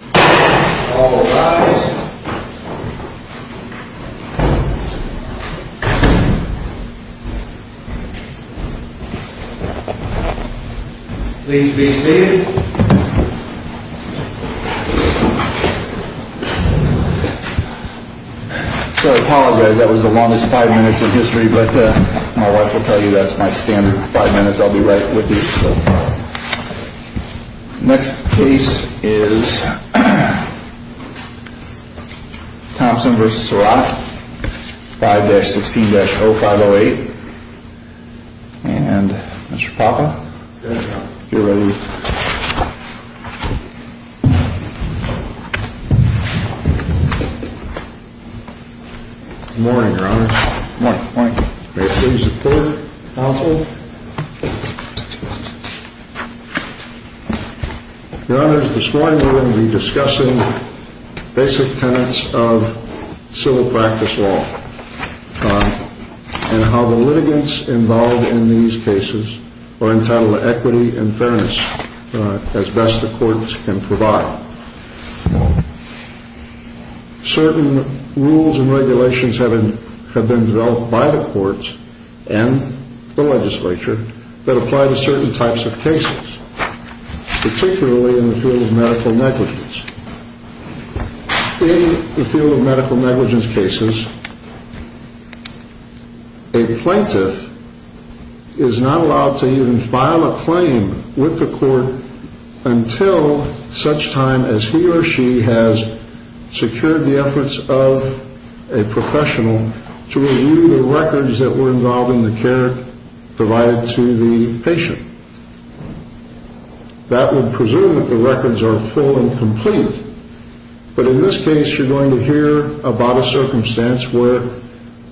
I apologize. That was the longest five minutes in history, but my wife will tell you that's my standard five minutes. I'll be right with you. Next case is Thompson v. Serot 5-16-0508. And Mr. Papa, if you're ready. Good morning, Your Honors. May it please the Court, counsel. Your Honors, this morning we're going to be discussing basic tenets of civil practice law and how the litigants involved in these cases are entitled to equity and fairness as best the courts can provide. Now, certain rules and regulations have been developed by the courts and the legislature that apply to certain types of cases, particularly in the field of medical negligence. In the field of medical negligence cases, a plaintiff is not allowed to even file a claim with the court until such time as he or she has secured the efforts of a professional to review the records that were involved in the care provided to the patient. That would presume that the records are full and complete. But in this case, you're going to hear about a circumstance where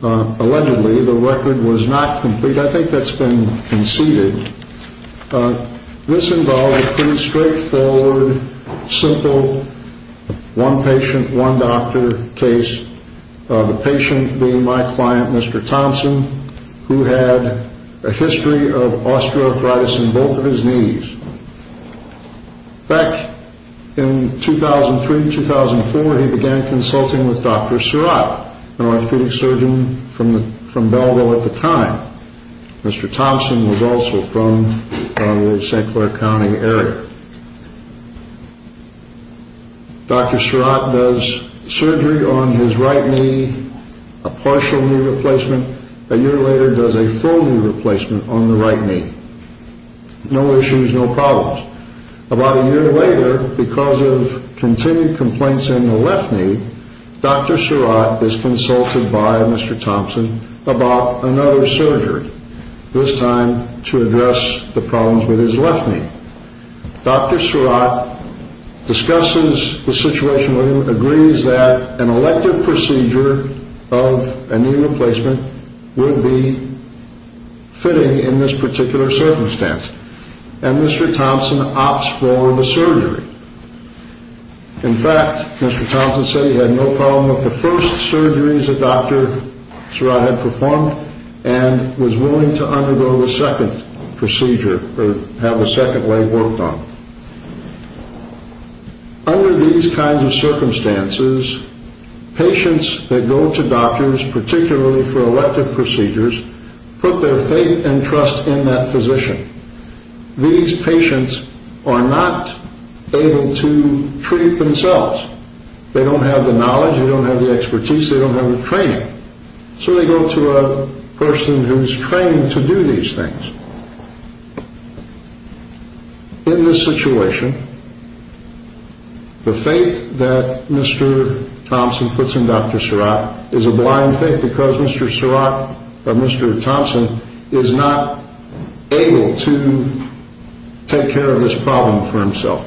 allegedly the record was not complete. I think that's been conceded. This involved a pretty straightforward, simple one patient, one doctor case. The patient being my client, Mr. Thompson, who had a history of osteoarthritis in both of his knees. Back in 2003-2004, he began consulting with Dr. Surratt, an orthopedic surgeon from Belleville at the time. Mr. Thompson was also from the St. Clair County area. Dr. Surratt does surgery on his right knee, a partial knee replacement, a year later does a full knee replacement on the right knee. No issues, no problems. About a year later, because of continued complaints in the left knee, Dr. Surratt is consulted by Mr. Thompson about another surgery, this time to address the problems with his left knee. Dr. Surratt discusses the situation with him, agrees that an elective procedure of a knee replacement would be fitting in this particular circumstance, and Mr. Thompson opts for the surgery. In fact, Mr. Thompson said he had no problem with the first surgeries that Dr. Surratt had performed and was willing to undergo the second procedure or have the second leg worked on. Under these kinds of circumstances, patients that go to doctors, particularly for elective procedures, put their faith and trust in that physician. These patients are not able to treat themselves. They don't have the knowledge, they don't have the expertise, they don't have the training. So they go to a person who is trained to do these things. In this situation, the faith that Mr. Thompson puts in Dr. Surratt is a blind faith because Mr. Thompson is not able to take care of this problem for himself.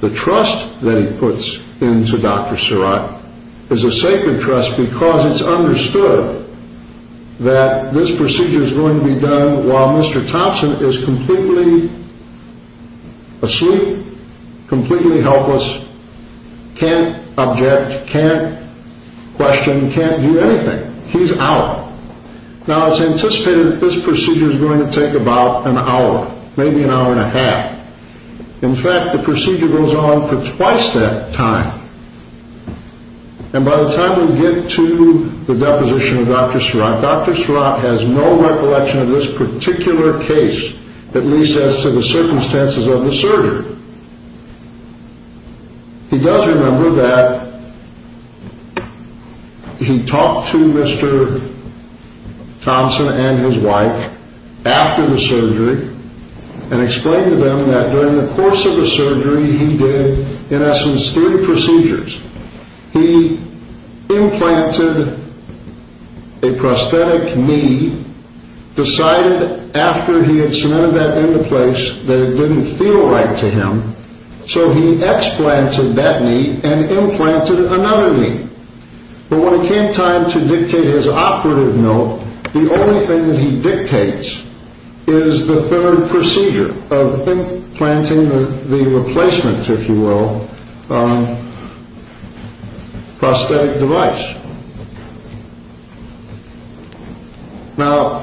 The trust that he puts into Dr. Surratt is a sacred trust because it's understood that this procedure is going to be done while Mr. Thompson is completely asleep, completely helpless, can't object, can't question, can't do anything. He's out. Now, it's anticipated that this procedure is going to take about an hour, maybe an hour and a half. In fact, the procedure goes on for twice that time. And by the time we get to the deposition of Dr. Surratt, Dr. Surratt has no recollection of this particular case, at least as to the circumstances of the surgery. He does remember that he talked to Mr. Thompson and his wife after the surgery and explained to them that during the course of the surgery he did, in essence, three procedures. He implanted a prosthetic knee, decided after he had cemented that into place that it didn't feel right to him, so he explanted that knee and implanted another knee. But when it came time to dictate his operative note, the only thing that he dictates is the third procedure of implanting the replacement, if you will, prosthetic device. Now,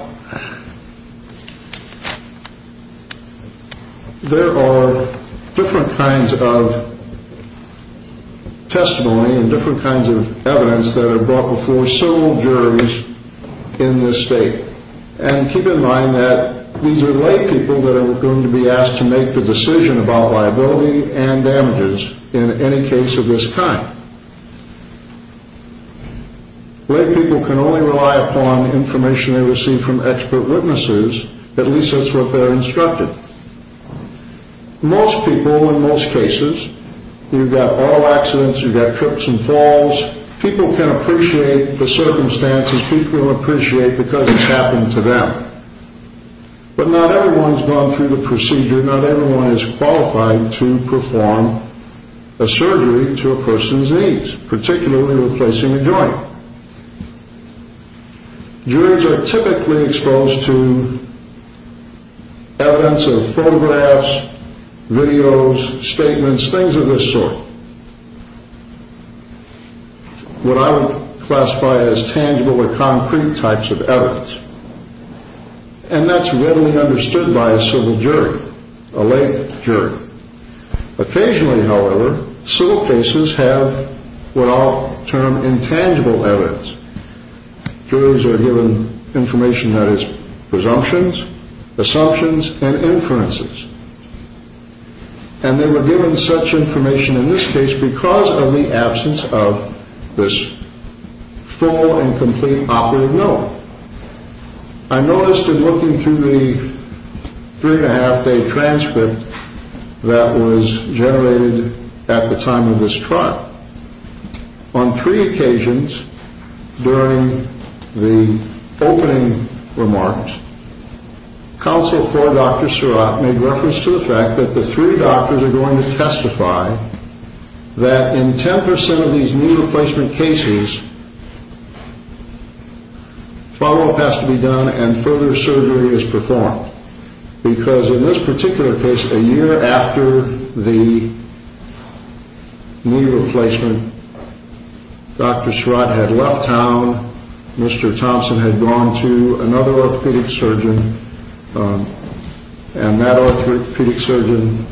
there are different kinds of testimony and different kinds of evidence that are brought before several juries in this state. And keep in mind that these are lay people that are going to be asked to make the decision about liability and damages in any case of this kind. Lay people can only rely upon information they receive from expert witnesses, at least that's what they're instructed. Most people, in most cases, you've got auto accidents, you've got trips and falls, people can appreciate the circumstances, people appreciate because it's happened to them. But not everyone's gone through the procedure, not everyone is qualified to perform a surgery to a person's knees, particularly replacing a joint. Juries are typically exposed to evidence of photographs, videos, statements, things of this sort, what I would classify as tangible or concrete types of evidence, and that's readily understood by a civil jury, a lay jury. Occasionally, however, civil cases have what I'll term intangible evidence. Juries are given information that is presumptions, assumptions, and inferences. And they were given such information in this case because of the absence of this full and complete operative note. I noticed in looking through the three-and-a-half-day transcript that was generated at the time of this trial, on three occasions during the opening remarks, counsel for Dr. Surratt made reference to the fact that the three doctors are going to testify that in 10% of these knee replacement cases, follow-up has to be done and further surgery is performed. Because in this particular case, a year after the knee replacement, Dr. Surratt had left town, Mr. Thompson had gone to another orthopedic surgeon, and that orthopedic surgeon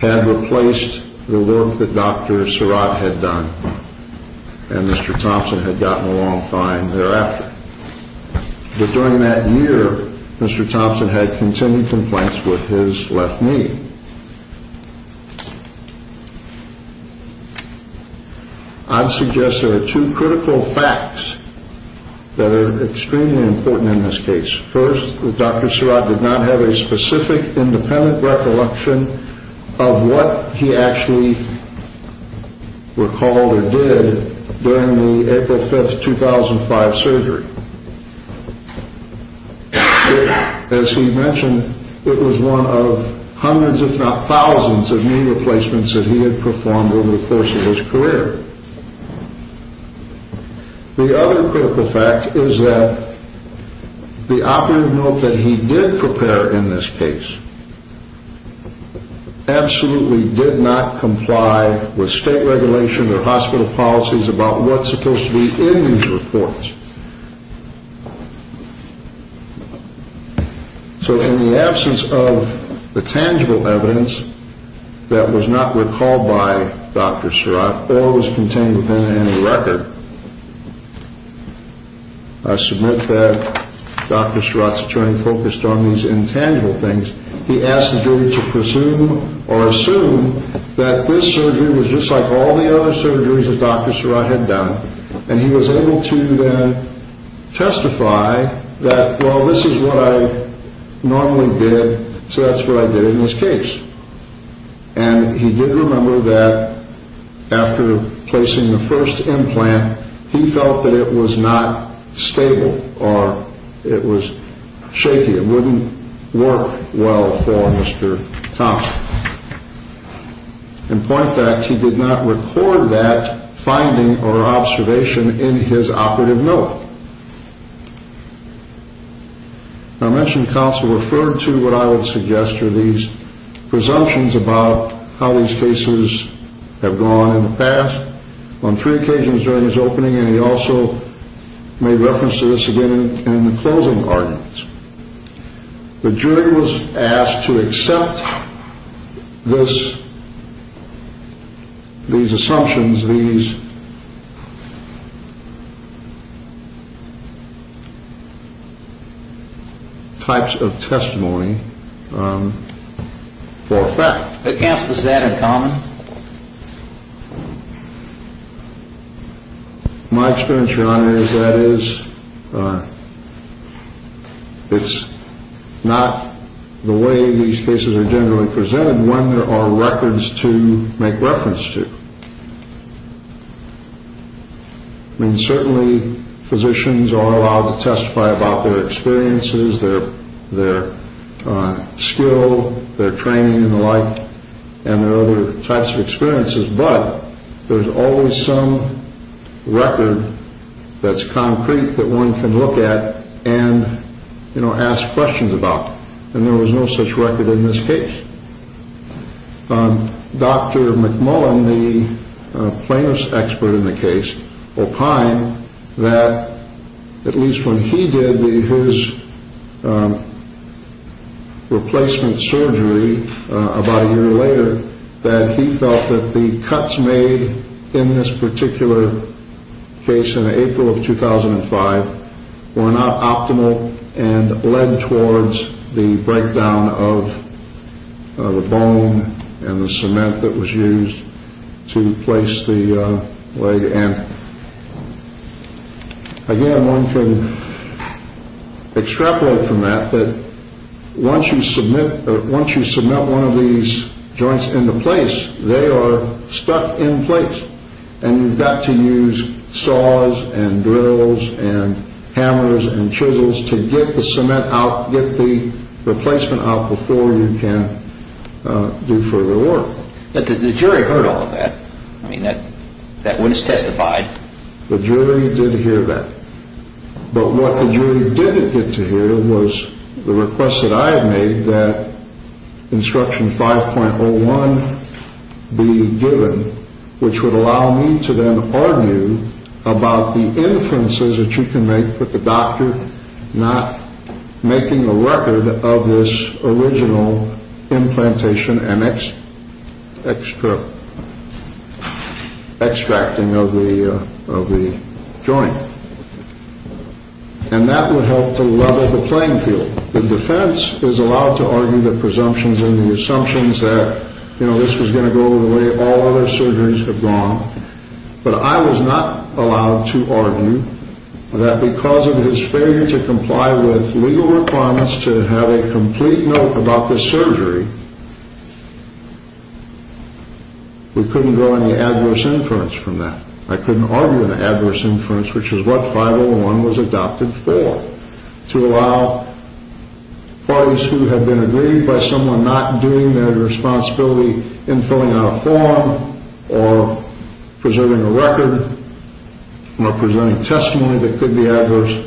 had replaced the work that Dr. Surratt had done, and Mr. Thompson had gotten along fine thereafter. But during that year, Mr. Thompson had continued complaints with his left knee. I'd suggest there are two critical facts that are extremely important in this case. First, Dr. Surratt did not have a specific independent recollection of what he actually recalled or did during the April 5, 2005 surgery. As he mentioned, it was one of hundreds, if not thousands, of knee replacements that he had performed over the course of his career. The other critical fact is that the operative note that he did prepare in this case absolutely did not comply with state regulation or hospital policies about what's supposed to be in these reports. So in the absence of the tangible evidence that was not recalled by Dr. Surratt or was contained within any record, I submit that Dr. Surratt's attorney focused on these intangible things. He asked the jury to presume or assume that this surgery was just like all the other surgeries that Dr. Surratt had done, and he was able to then testify that, well, this is what I normally did, so that's what I did in this case. And he did remember that after placing the first implant, he felt that it was not stable or it was shaky. It wouldn't work well for Mr. Thomas. In point of fact, he did not record that finding or observation in his operative note. I mentioned counsel referred to what I would suggest are these presumptions about how these cases have gone in the past on three occasions during his opening, and he also made reference to this again in the closing arguments. The jury was asked to accept this, these assumptions, these types of testimony for a fact. Counsel, is that in common? My experience, Your Honor, is that it's not the way these cases are generally presented when there are records to make reference to. I mean, certainly physicians are allowed to testify about their experiences, their skill, their training and the like, and their other types of experiences, but there's always some record that's concrete that one can look at and, you know, ask questions about, and there was no such record in this case. Dr. McMullen, the plaintiff's expert in the case, opined that at least when he did his replacement surgery about a year later, that he felt that the cuts made in this particular case in April of 2005 were not optimal and led towards the breakdown of the bone and the cement that was used to place the leg in. Again, one can extrapolate from that that once you cement one of these joints into place, they are stuck in place, and you've got to use saws and drills and hammers and chisels to get the cement out, get the replacement out before you can do further work. But the jury heard all of that. I mean, that witness testified. The jury did hear that. But what the jury didn't get to hear was the request that I had made that instruction 5.01 be given, which would allow me to then argue about the inferences that you can make that the doctor not making a record of this original implantation and extracting of the joint. And that would help to level the playing field. The defense is allowed to argue the presumptions and the assumptions that, you know, this was going to go the way all other surgeries have gone. But I was not allowed to argue that because of his failure to comply with legal requirements to have a complete note about this surgery, we couldn't draw any adverse inference from that. I couldn't argue an adverse inference, which is what 5.01 was adopted for, to allow parties who have been aggrieved by someone not doing their responsibility in filling out a form or preserving a record or presenting testimony that could be adverse,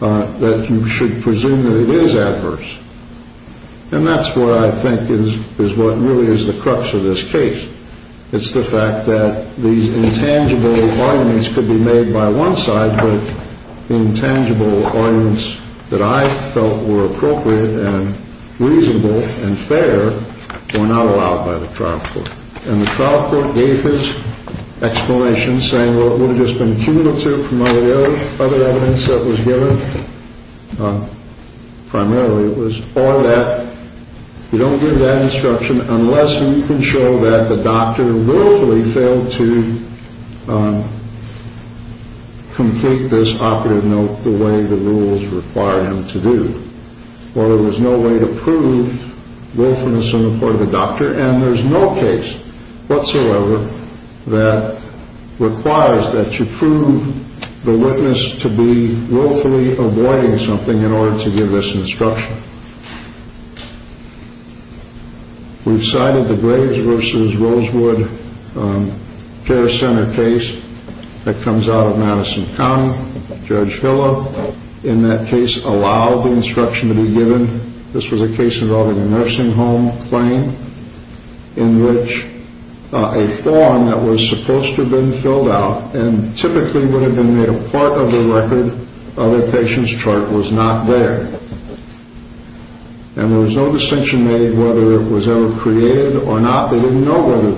that you should presume that it is adverse. And that's what I think is what really is the crux of this case. It's the fact that these intangible arguments could be made by one side, but intangible arguments that I felt were appropriate and reasonable and fair were not allowed by the trial court. And the trial court gave his explanation saying, well, it would have just been cumulative from other evidence that was given. Primarily, it was all that. We don't give that instruction unless we can show that the doctor willfully failed to complete this operative note the way the rules require him to do. Or there was no way to prove willfulness on the part of the doctor. And there's no case whatsoever that requires that you prove the witness to be willfully avoiding something in order to give this instruction. We've cited the Graves v. Rosewood Care Center case that comes out of Madison County. Judge Hillel, in that case, allowed the instruction to be given. This was a case involving a nursing home claim in which a form that was supposed to have been filled out and typically would have been made a part of the record of the patient's chart was not there. And there was no distinction made whether it was ever created or not. They didn't know whether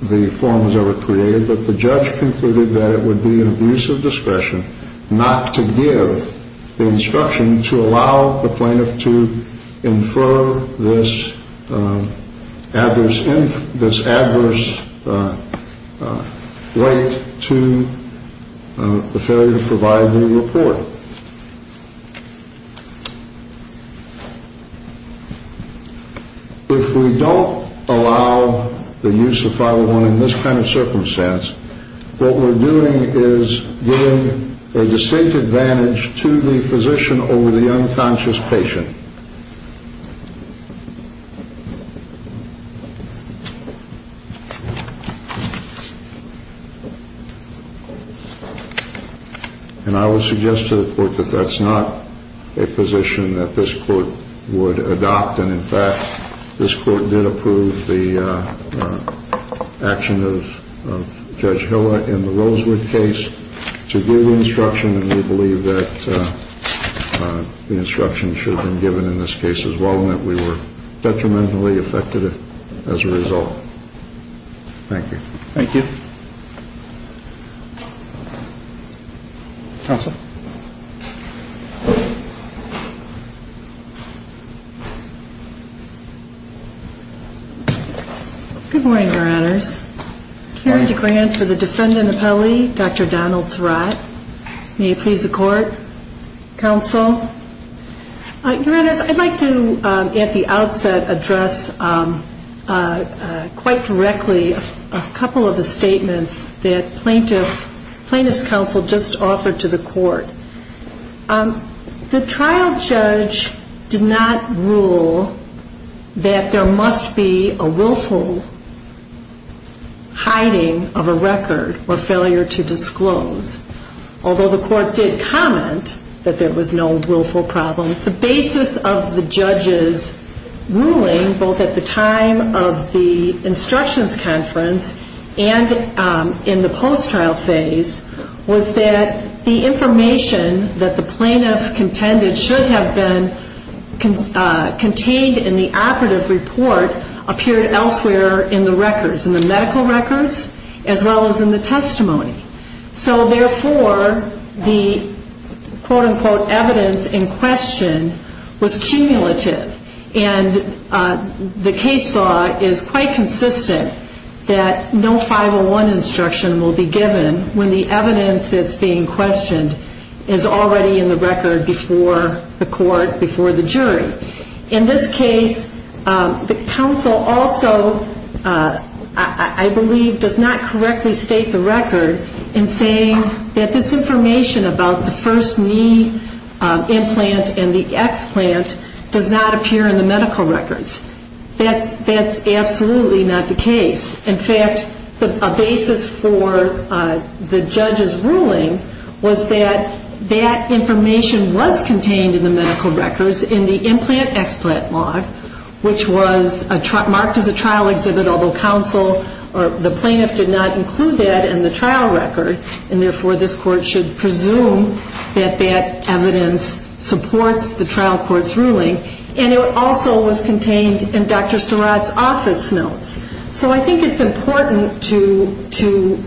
the form was ever created, but the judge concluded that it would be an abuse of discretion not to give the instruction to allow the plaintiff to infer this adverse weight to the failure to provide the report. If we don't allow the use of 501 in this kind of circumstance, what we're doing is giving a distinct advantage to the physician over the unconscious patient. And I would suggest to the court that that's not a position that this court would adopt. And, in fact, this court did approve the action of Judge Hillel in the Rosewood case to give the instruction, and we believe that the instruction should have been given in this case as well, and that we were detrimentally affected as a result. Thank you. Thank you. Counsel? Good morning, Your Honors. Karen DeGrant for the Defendant Appellee, Dr. Donald Srot. May it please the court? Counsel? Your Honors, I'd like to, at the outset, address quite directly a couple of the statements that Plaintiff's Counsel just offered to the court. The trial judge did not rule that there must be a willful hiding of a record or failure to disclose. Although the court did comment that there was no willful problem, the basis of the judge's ruling, both at the time of the instructions conference and in the post-trial phase, was that the information that the plaintiff contended should have been contained in the operative report appeared elsewhere in the records, in the medical records as well as in the testimony. So, therefore, the quote-unquote evidence in question was cumulative, and the case law is quite consistent that no 501 instruction will be given when the evidence that's being questioned is already in the record before the court, before the jury. In this case, the counsel also, I believe, does not correctly state the record in saying that this information about the first knee implant and the explant does not appear in the medical records. That's absolutely not the case. In fact, a basis for the judge's ruling was that that information was contained in the medical records in the implant explant log, which was marked as a trial exhibit, although counsel or the plaintiff did not include that in the trial record, and, therefore, this court should presume that that evidence supports the trial court's ruling, and it also was contained in Dr. Surratt's office notes. So I think it's important to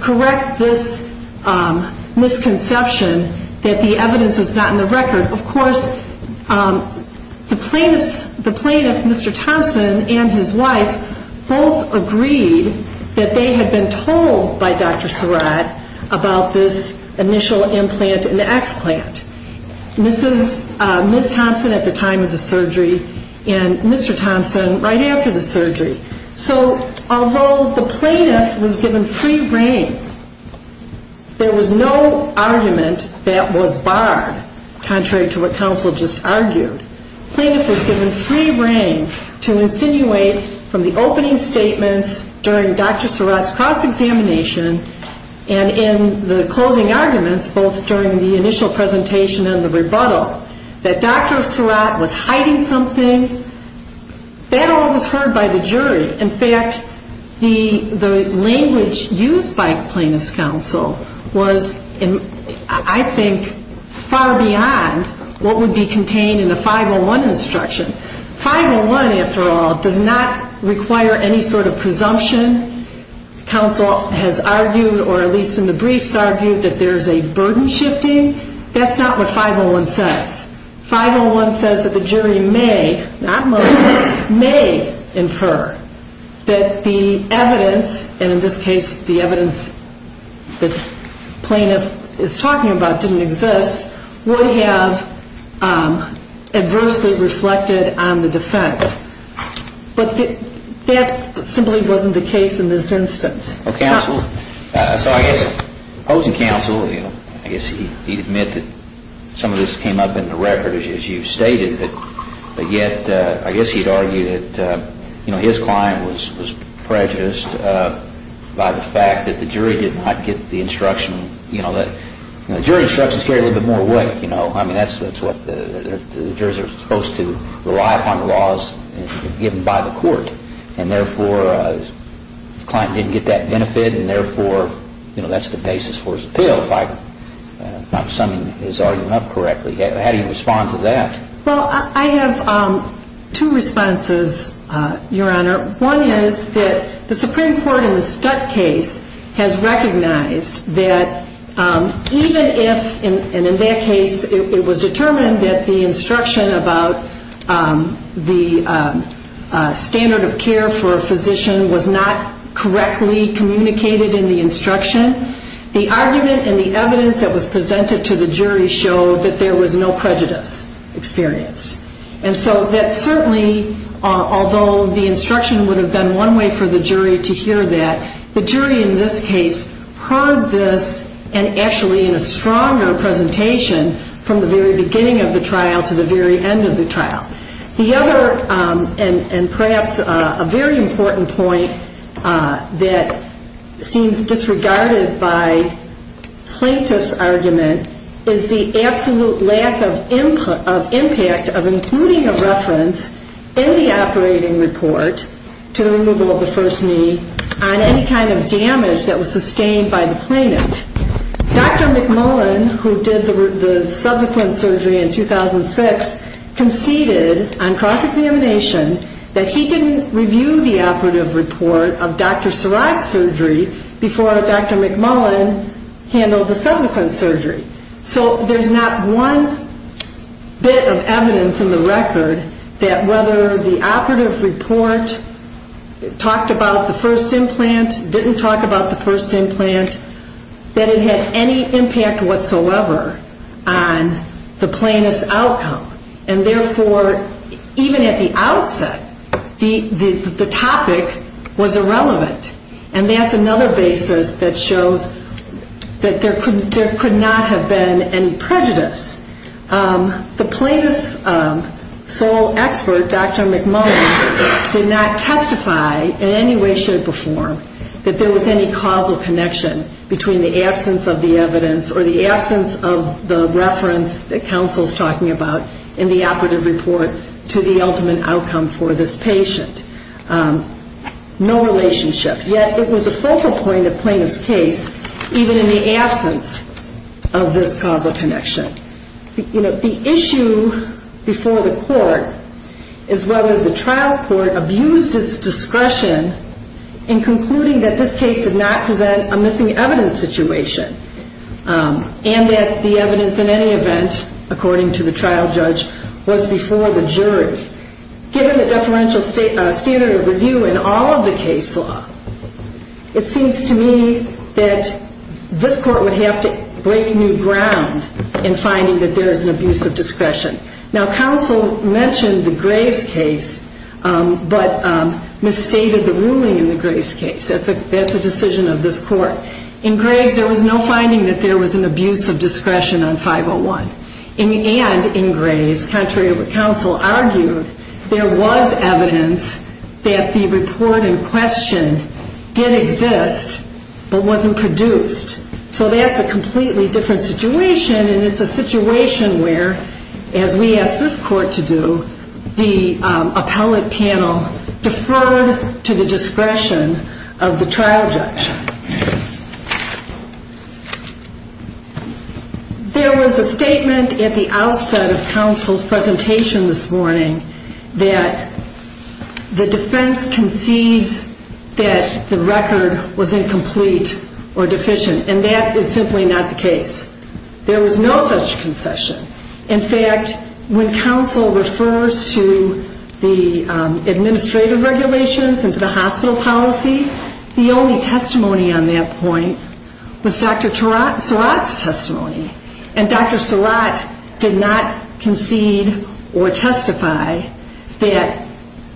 correct this misconception that the evidence was not in the record. Of course, the plaintiff, Mr. Thompson, and his wife both agreed that they had been told by Dr. Surratt about this initial implant and explant. This is Ms. Thompson at the time of the surgery and Mr. Thompson right after the surgery. So although the plaintiff was given free reign, there was no argument that was barred, contrary to what counsel just argued. Plaintiff was given free reign to insinuate from the opening statements during Dr. Surratt's cross-examination and in the closing arguments, both during the initial presentation and the rebuttal, that Dr. Surratt was hiding something. That all was heard by the jury. In fact, the language used by plaintiff's counsel was, I think, far beyond what would be contained in a 501 instruction. 501, after all, does not require any sort of presumption. Counsel has argued, or at least in the briefs argued, that there's a burden shifting. That's not what 501 says. 501 says that the jury may, not most, may infer that the evidence, and in this case the evidence that plaintiff is talking about didn't exist, would have adversely reflected on the defense. But that simply wasn't the case in this instance. Counsel, so I guess opposing counsel, I guess he'd admit that some of this came up in the record, as you stated, but yet I guess he'd argue that his client was prejudiced by the fact that the jury did not get the instruction. The jury instructions carried a little bit more weight. I mean, that's what the jurors are supposed to rely upon, the laws given by the court. And therefore, the client didn't get that benefit, and therefore, that's the basis for his appeal, if I'm summing his argument up correctly. How do you respond to that? Well, I have two responses, Your Honor. One is that the Supreme Court in the Stutt case has recognized that even if, and in that case, it was determined that the instruction about the standard of care for a physician was not correctly communicated in the instruction, the argument and the evidence that was presented to the jury showed that there was no prejudice experienced. And so that certainly, although the instruction would have been one way for the jury to hear that, the jury in this case heard this and actually in a stronger presentation from the very beginning of the trial to the very end of the trial. The other, and perhaps a very important point that seems disregarded by plaintiff's argument, is the absolute lack of impact of including a reference in the operating report to the removal of the first knee on any kind of damage that was sustained by the plaintiff. Dr. McMullen, who did the subsequent surgery in 2006, conceded on cross-examination that he didn't review the operative report of Dr. Sarai's surgery before Dr. McMullen handled the subsequent surgery. So there's not one bit of evidence in the record that whether the operative report talked about the first implant, didn't talk about the first implant, that it had any impact whatsoever on the plaintiff's outcome. And therefore, even at the outset, the topic was irrelevant. And that's another basis that shows that there could not have been any prejudice. The plaintiff's sole expert, Dr. McMullen, did not testify in any way, shape, or form that there was any causal connection between the absence of the evidence or the absence of the reference that counsel is talking about in the operative report to the ultimate outcome for this patient. No relationship. Yet, it was a focal point of Plaintiff's case, even in the absence of this causal connection. The issue before the court is whether the trial court abused its discretion in concluding that this case did not present a missing evidence situation, and that the evidence in any event, according to the trial judge, was before the jury. Given the deferential standard of review in all of the case law, it seems to me that this court would have to break new ground in finding that there is an abuse of discretion. Now, counsel mentioned the Graves case, but misstated the ruling in the Graves case. That's a decision of this court. In Graves, there was no finding that there was an abuse of discretion on 501. And in Graves, contrary to what counsel argued, there was evidence that the report in question did exist, but wasn't produced. So that's a completely different situation, and it's a situation where, as we asked this court to do, the appellate panel deferred to the discretion of the trial judge. There was a statement at the outset of counsel's presentation this morning that the defense concedes that the record was incomplete or deficient, and that is simply not the case. There was no such concession. In fact, when counsel refers to the administrative regulations and to the hospital policy, the only testimony on that point was Dr. Surratt's testimony. And Dr. Surratt did not concede or testify that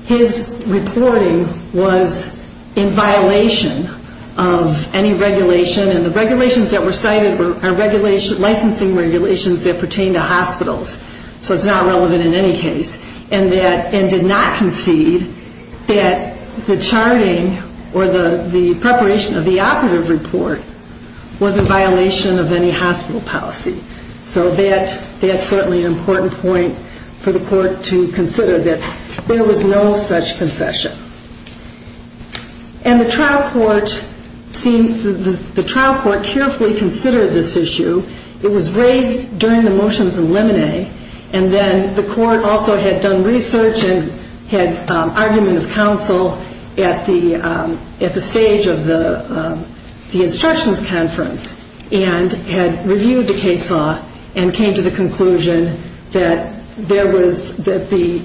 his reporting was in violation of any regulation, and the regulations that were cited were licensing regulations that pertain to hospitals. So it's not relevant in any case, and did not concede that the charting or the preparation of the operative report was in violation of any hospital policy. So that's certainly an important point for the court to consider, that there was no such concession. And the trial court carefully considered this issue. It was raised during the motions in Lemonet, and then the court also had done research and had argument with counsel at the stage of the instructions conference, and had reviewed the case law and came to the conclusion that there was, that the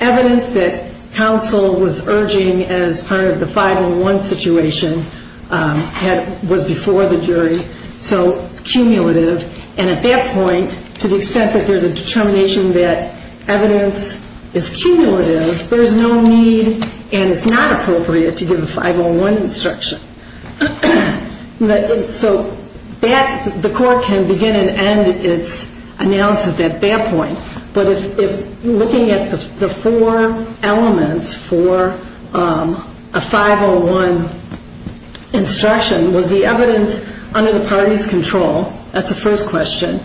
evidence that counsel was not in favor of this, was not in favor of this. The evidence that counsel was urging as part of the 501 situation was before the jury, so it's cumulative. And at that point, to the extent that there's a determination that evidence is cumulative, there's no need and it's not appropriate to give a 501 instruction. So the court can begin and end its analysis at that point, but if looking at the four elements for a 501 instruction, was the evidence under the party's control? That's the first question.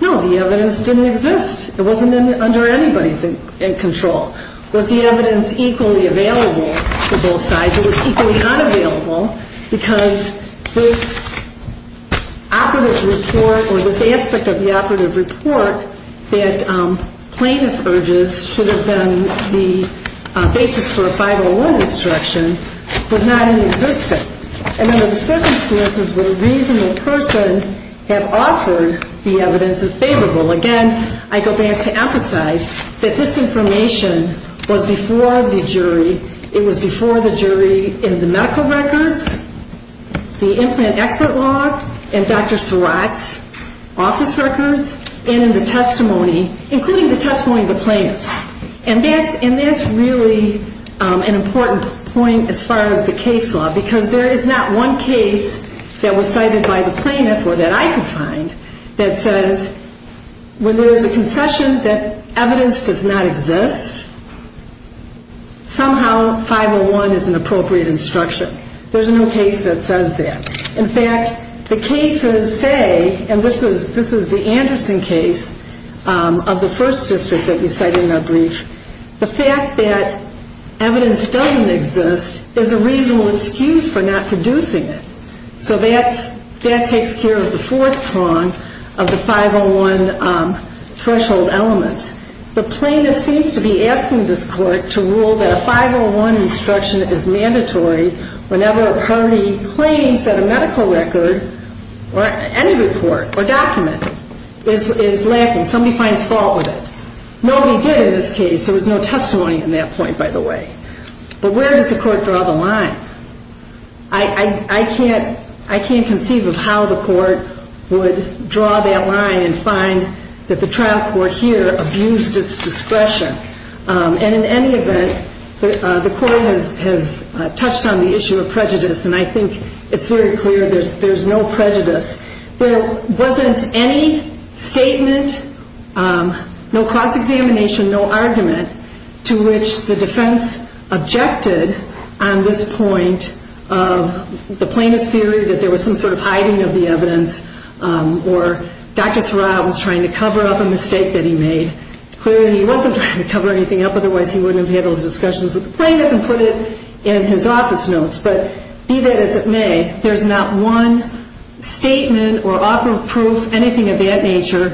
No, the evidence didn't exist. It wasn't under anybody's control. Was the evidence equally available for both sides? It was equally unavailable because this operative report or this aspect of the operative report that plaintiff urges should have been the basis for a 501 instruction was not in existence. And under the circumstances, would a reasonable person have offered the evidence that's favorable? Again, I go back to emphasize that this information was before the jury. It was before the jury in the medical records, the implant expert law, and Dr. Surratt's office records, and in the testimony, including the testimony of the plaintiffs. And that's really an important point as far as the case law, because there is not one case that was cited by the plaintiff or that I could find that says when there's a concession that evidence does not exist, somehow 501 is an appropriate instruction. There's no case that says that. In fact, the cases say, and this is the Anderson case of the first district that we cited in our brief, the fact that evidence doesn't exist is a reasonable excuse for not producing it. So that takes care of the fourth prong of the 501 threshold elements. The plaintiff seems to be asking this court to rule that a 501 instruction is mandatory whenever a party claims that a medical record or any report or document is lacking. Somebody finds fault with it. Nobody did in this case. There was no testimony at that point, by the way. But where does the court draw the line? I can't conceive of how the court would draw that line and find that the trial court here abused its discretion. And in any event, the court has touched on the issue of prejudice, and I think it's very clear there's no prejudice. There wasn't any statement, no cross-examination, no argument to which the defense objected on this point of the plaintiff's theory that there was some sort of hiding of the evidence or Dr. Sarra was trying to cover up a mistake that he made. Clearly he wasn't trying to cover anything up, otherwise he wouldn't have had those discussions with the plaintiff and put it in his office notes. But be that as it may, there's not one statement or author of proof, anything of that nature,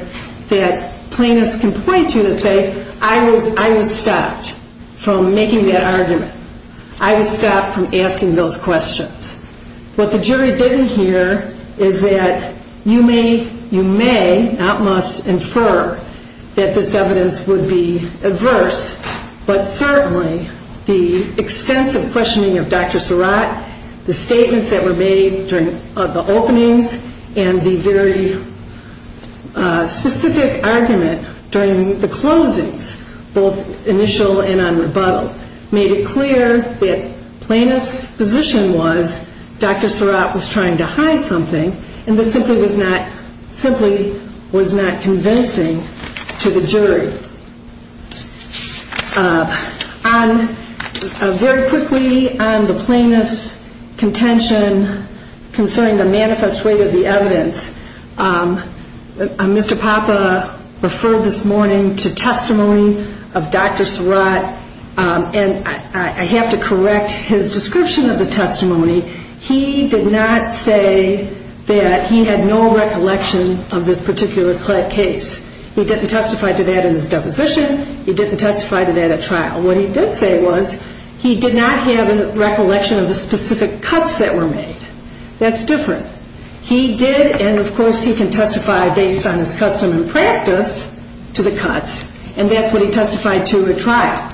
that plaintiffs can point to and say, I was stopped from making that argument. I was stopped from asking those questions. What the jury didn't hear is that you may, you may, not must infer that this evidence would be adverse, but certainly the extensive questioning of Dr. Sarra, the statements that were made during the openings, and the very specific argument during the closings, both initial and on rebuttal, made it clear that plaintiff's position was that there was no evidence. Dr. Sarra was trying to hide something, and this simply was not convincing to the jury. Very quickly on the plaintiff's contention concerning the manifest weight of the evidence, Mr. Papa referred this morning to testimony of Dr. Sarra, and I have to correct his description of the testimony. He did not say that he had no recollection of this particular case. He didn't testify to that in his deposition. He didn't testify to that at trial. What he did say was he did not have a recollection of the specific cuts that were made. That's different. He did, and of course he can testify based on his custom and practice to the cuts, and that's what he testified to at trial.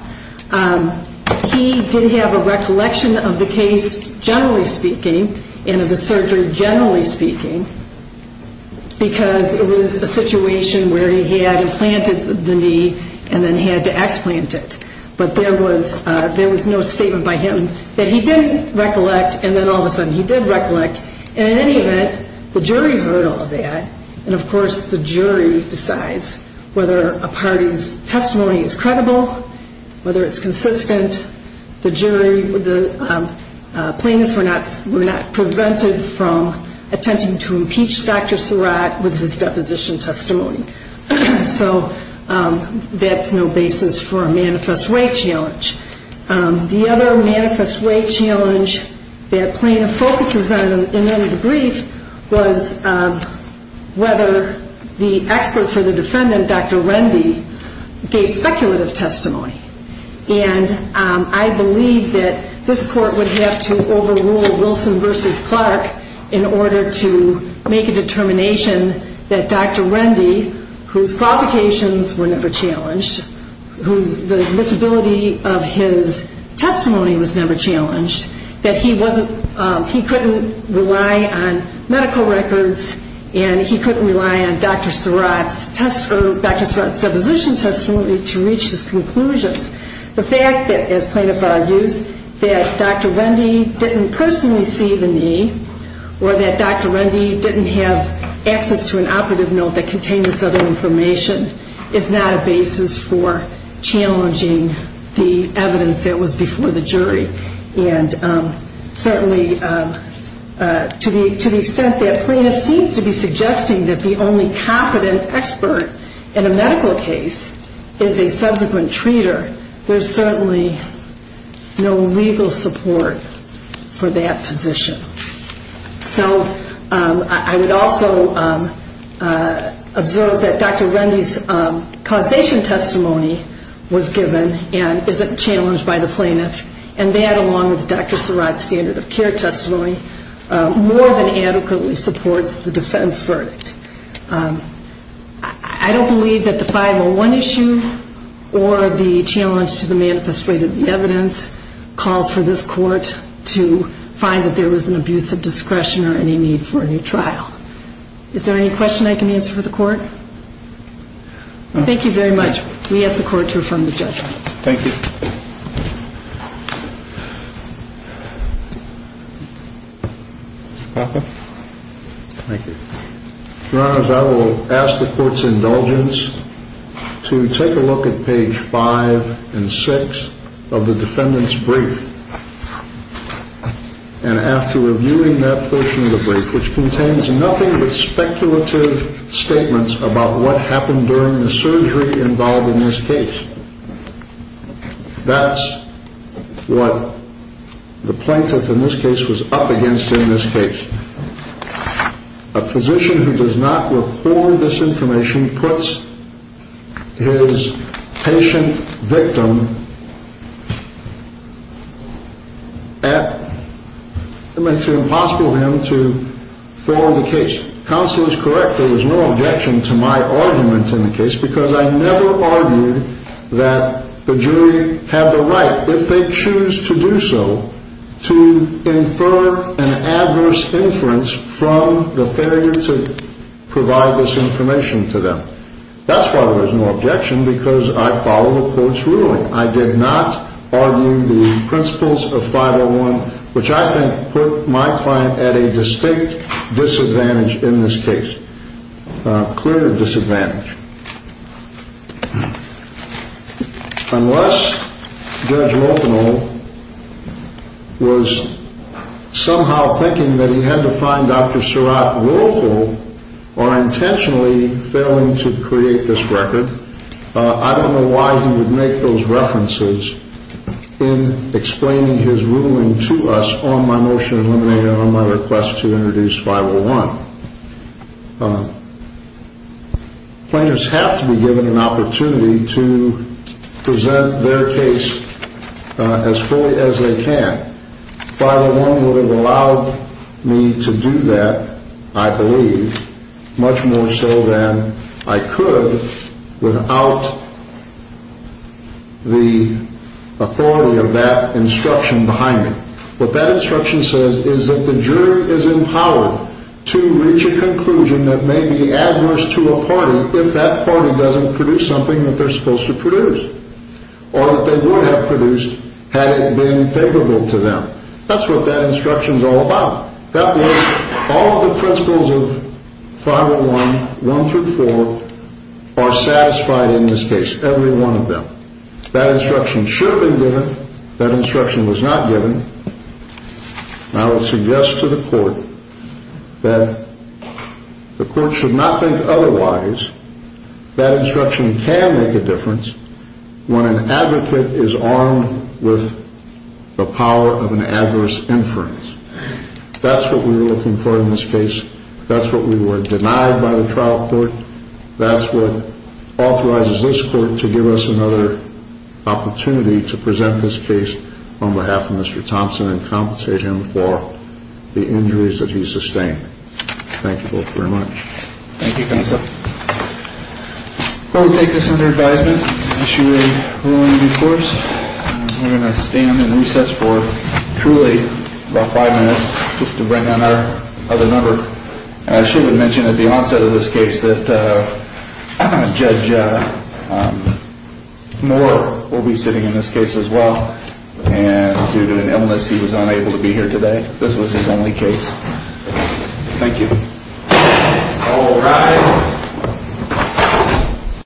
He did have a recollection of the case generally speaking, and of the surgery generally speaking, because it was a situation where he had implanted the knee and then had to explant it, but there was no statement by him that he didn't recollect, and then all of a sudden he did recollect. In any event, the jury heard all of that, and of course the jury decides whether a party's testimony is credible, whether it's consistent. The jury, the plaintiffs were not prevented from attempting to impeach Dr. Sarra with his deposition testimony. So that's no basis for a manifest way challenge. The other manifest way challenge that plaintiff focuses on in the brief was whether the expert for the defendant, Dr. Rendy, gave speculative testimony, and I believe that this court would have to overrule Wilson v. Clark in order to make a determination that Dr. Rendy, whose qualifications were never challenged, whose the admissibility of his testimony was never challenged, that he couldn't rely on medical records and he couldn't rely on Dr. Sarra's deposition testimony to reach his conclusions. The fact that, as plaintiffs argue, that Dr. Rendy didn't personally see the knee, or that Dr. Rendy didn't have access to an operative note that contained this other information, is not a basis for challenging the evidence that was before the jury. And certainly to the extent that plaintiff seems to be suggesting that the only competent expert in a medical case is a subsequent treater, there's certainly no legal support for that position. So I would also observe that Dr. Rendy's causation testimony was given and isn't challenged by the plaintiff, and that, along with Dr. Sarra's standard of care testimony, more than adequately supports the defense verdict. I don't believe that the 501 issue or the challenge to the manifest rate of the evidence calls for this court to find that there was an abuse of discretion or any need for a new trial. Is there any question I can answer for the court? Thank you very much. We ask the court to affirm the judgment. Thank you. Your Honor, I will ask the court's indulgence to take a look at page 5 and 6 of the defendant's brief. And after reviewing that portion of the brief, which contains nothing but speculative statements about what happened during the surgery involved in this case, that's what I would ask the court to do. The plaintiff in this case was up against in this case. A physician who does not record this information puts his patient victim at, it makes it impossible for him to follow the case. Counsel is correct, there was no objection to my argument in the case, because I never argued that the jury had the right, if they choose to do so, to infer an adverse inference from the failure to provide this information to them. That's why there's no objection, because I follow the court's ruling. I did not argue the principles of 501, which I think put my client at a distinct disadvantage in this case. Clear disadvantage. Unless Judge Rothenow was somehow thinking that he had to find Dr. Surratt willful or intentionally failing to create this record, I don't know why he would make those references in explaining his ruling to us on my motion to eliminate and on my request to introduce 501. Plaintiffs have to be given an opportunity to present their case as fully as they can. 501 would have allowed me to do that, I believe, much more so than I could without the authority of that instruction behind me. What that instruction says is that the jury is empowered to reach a conclusion that may be adverse to a party if that party doesn't produce something that they're supposed to produce, or that they would have produced had it been favorable to them. That's what that instruction's all about. All of the principles of 501, 1 through 4, are satisfied in this case, every one of them. That instruction should have been given. That instruction was not given. I would suggest to the court that the court should not think otherwise. That instruction can make a difference when an advocate is armed with the power of an adverse inference. That's what we were looking for in this case. That's what we were denied by the trial court. That's what authorizes this court to give us another opportunity to present this case on behalf of Mr. Thompson and compensate him for the injuries that he sustained. Thank you both very much. Thank you, counsel. We'll take this under advisement. Issue a ruling, of course. We're going to stand in recess for truly about five minutes just to bring in our other member. I should mention at the onset of this case that Judge Moore will be sitting in this case as well. Due to an illness, he was unable to be here today. This was his only case. Thank you. All rise.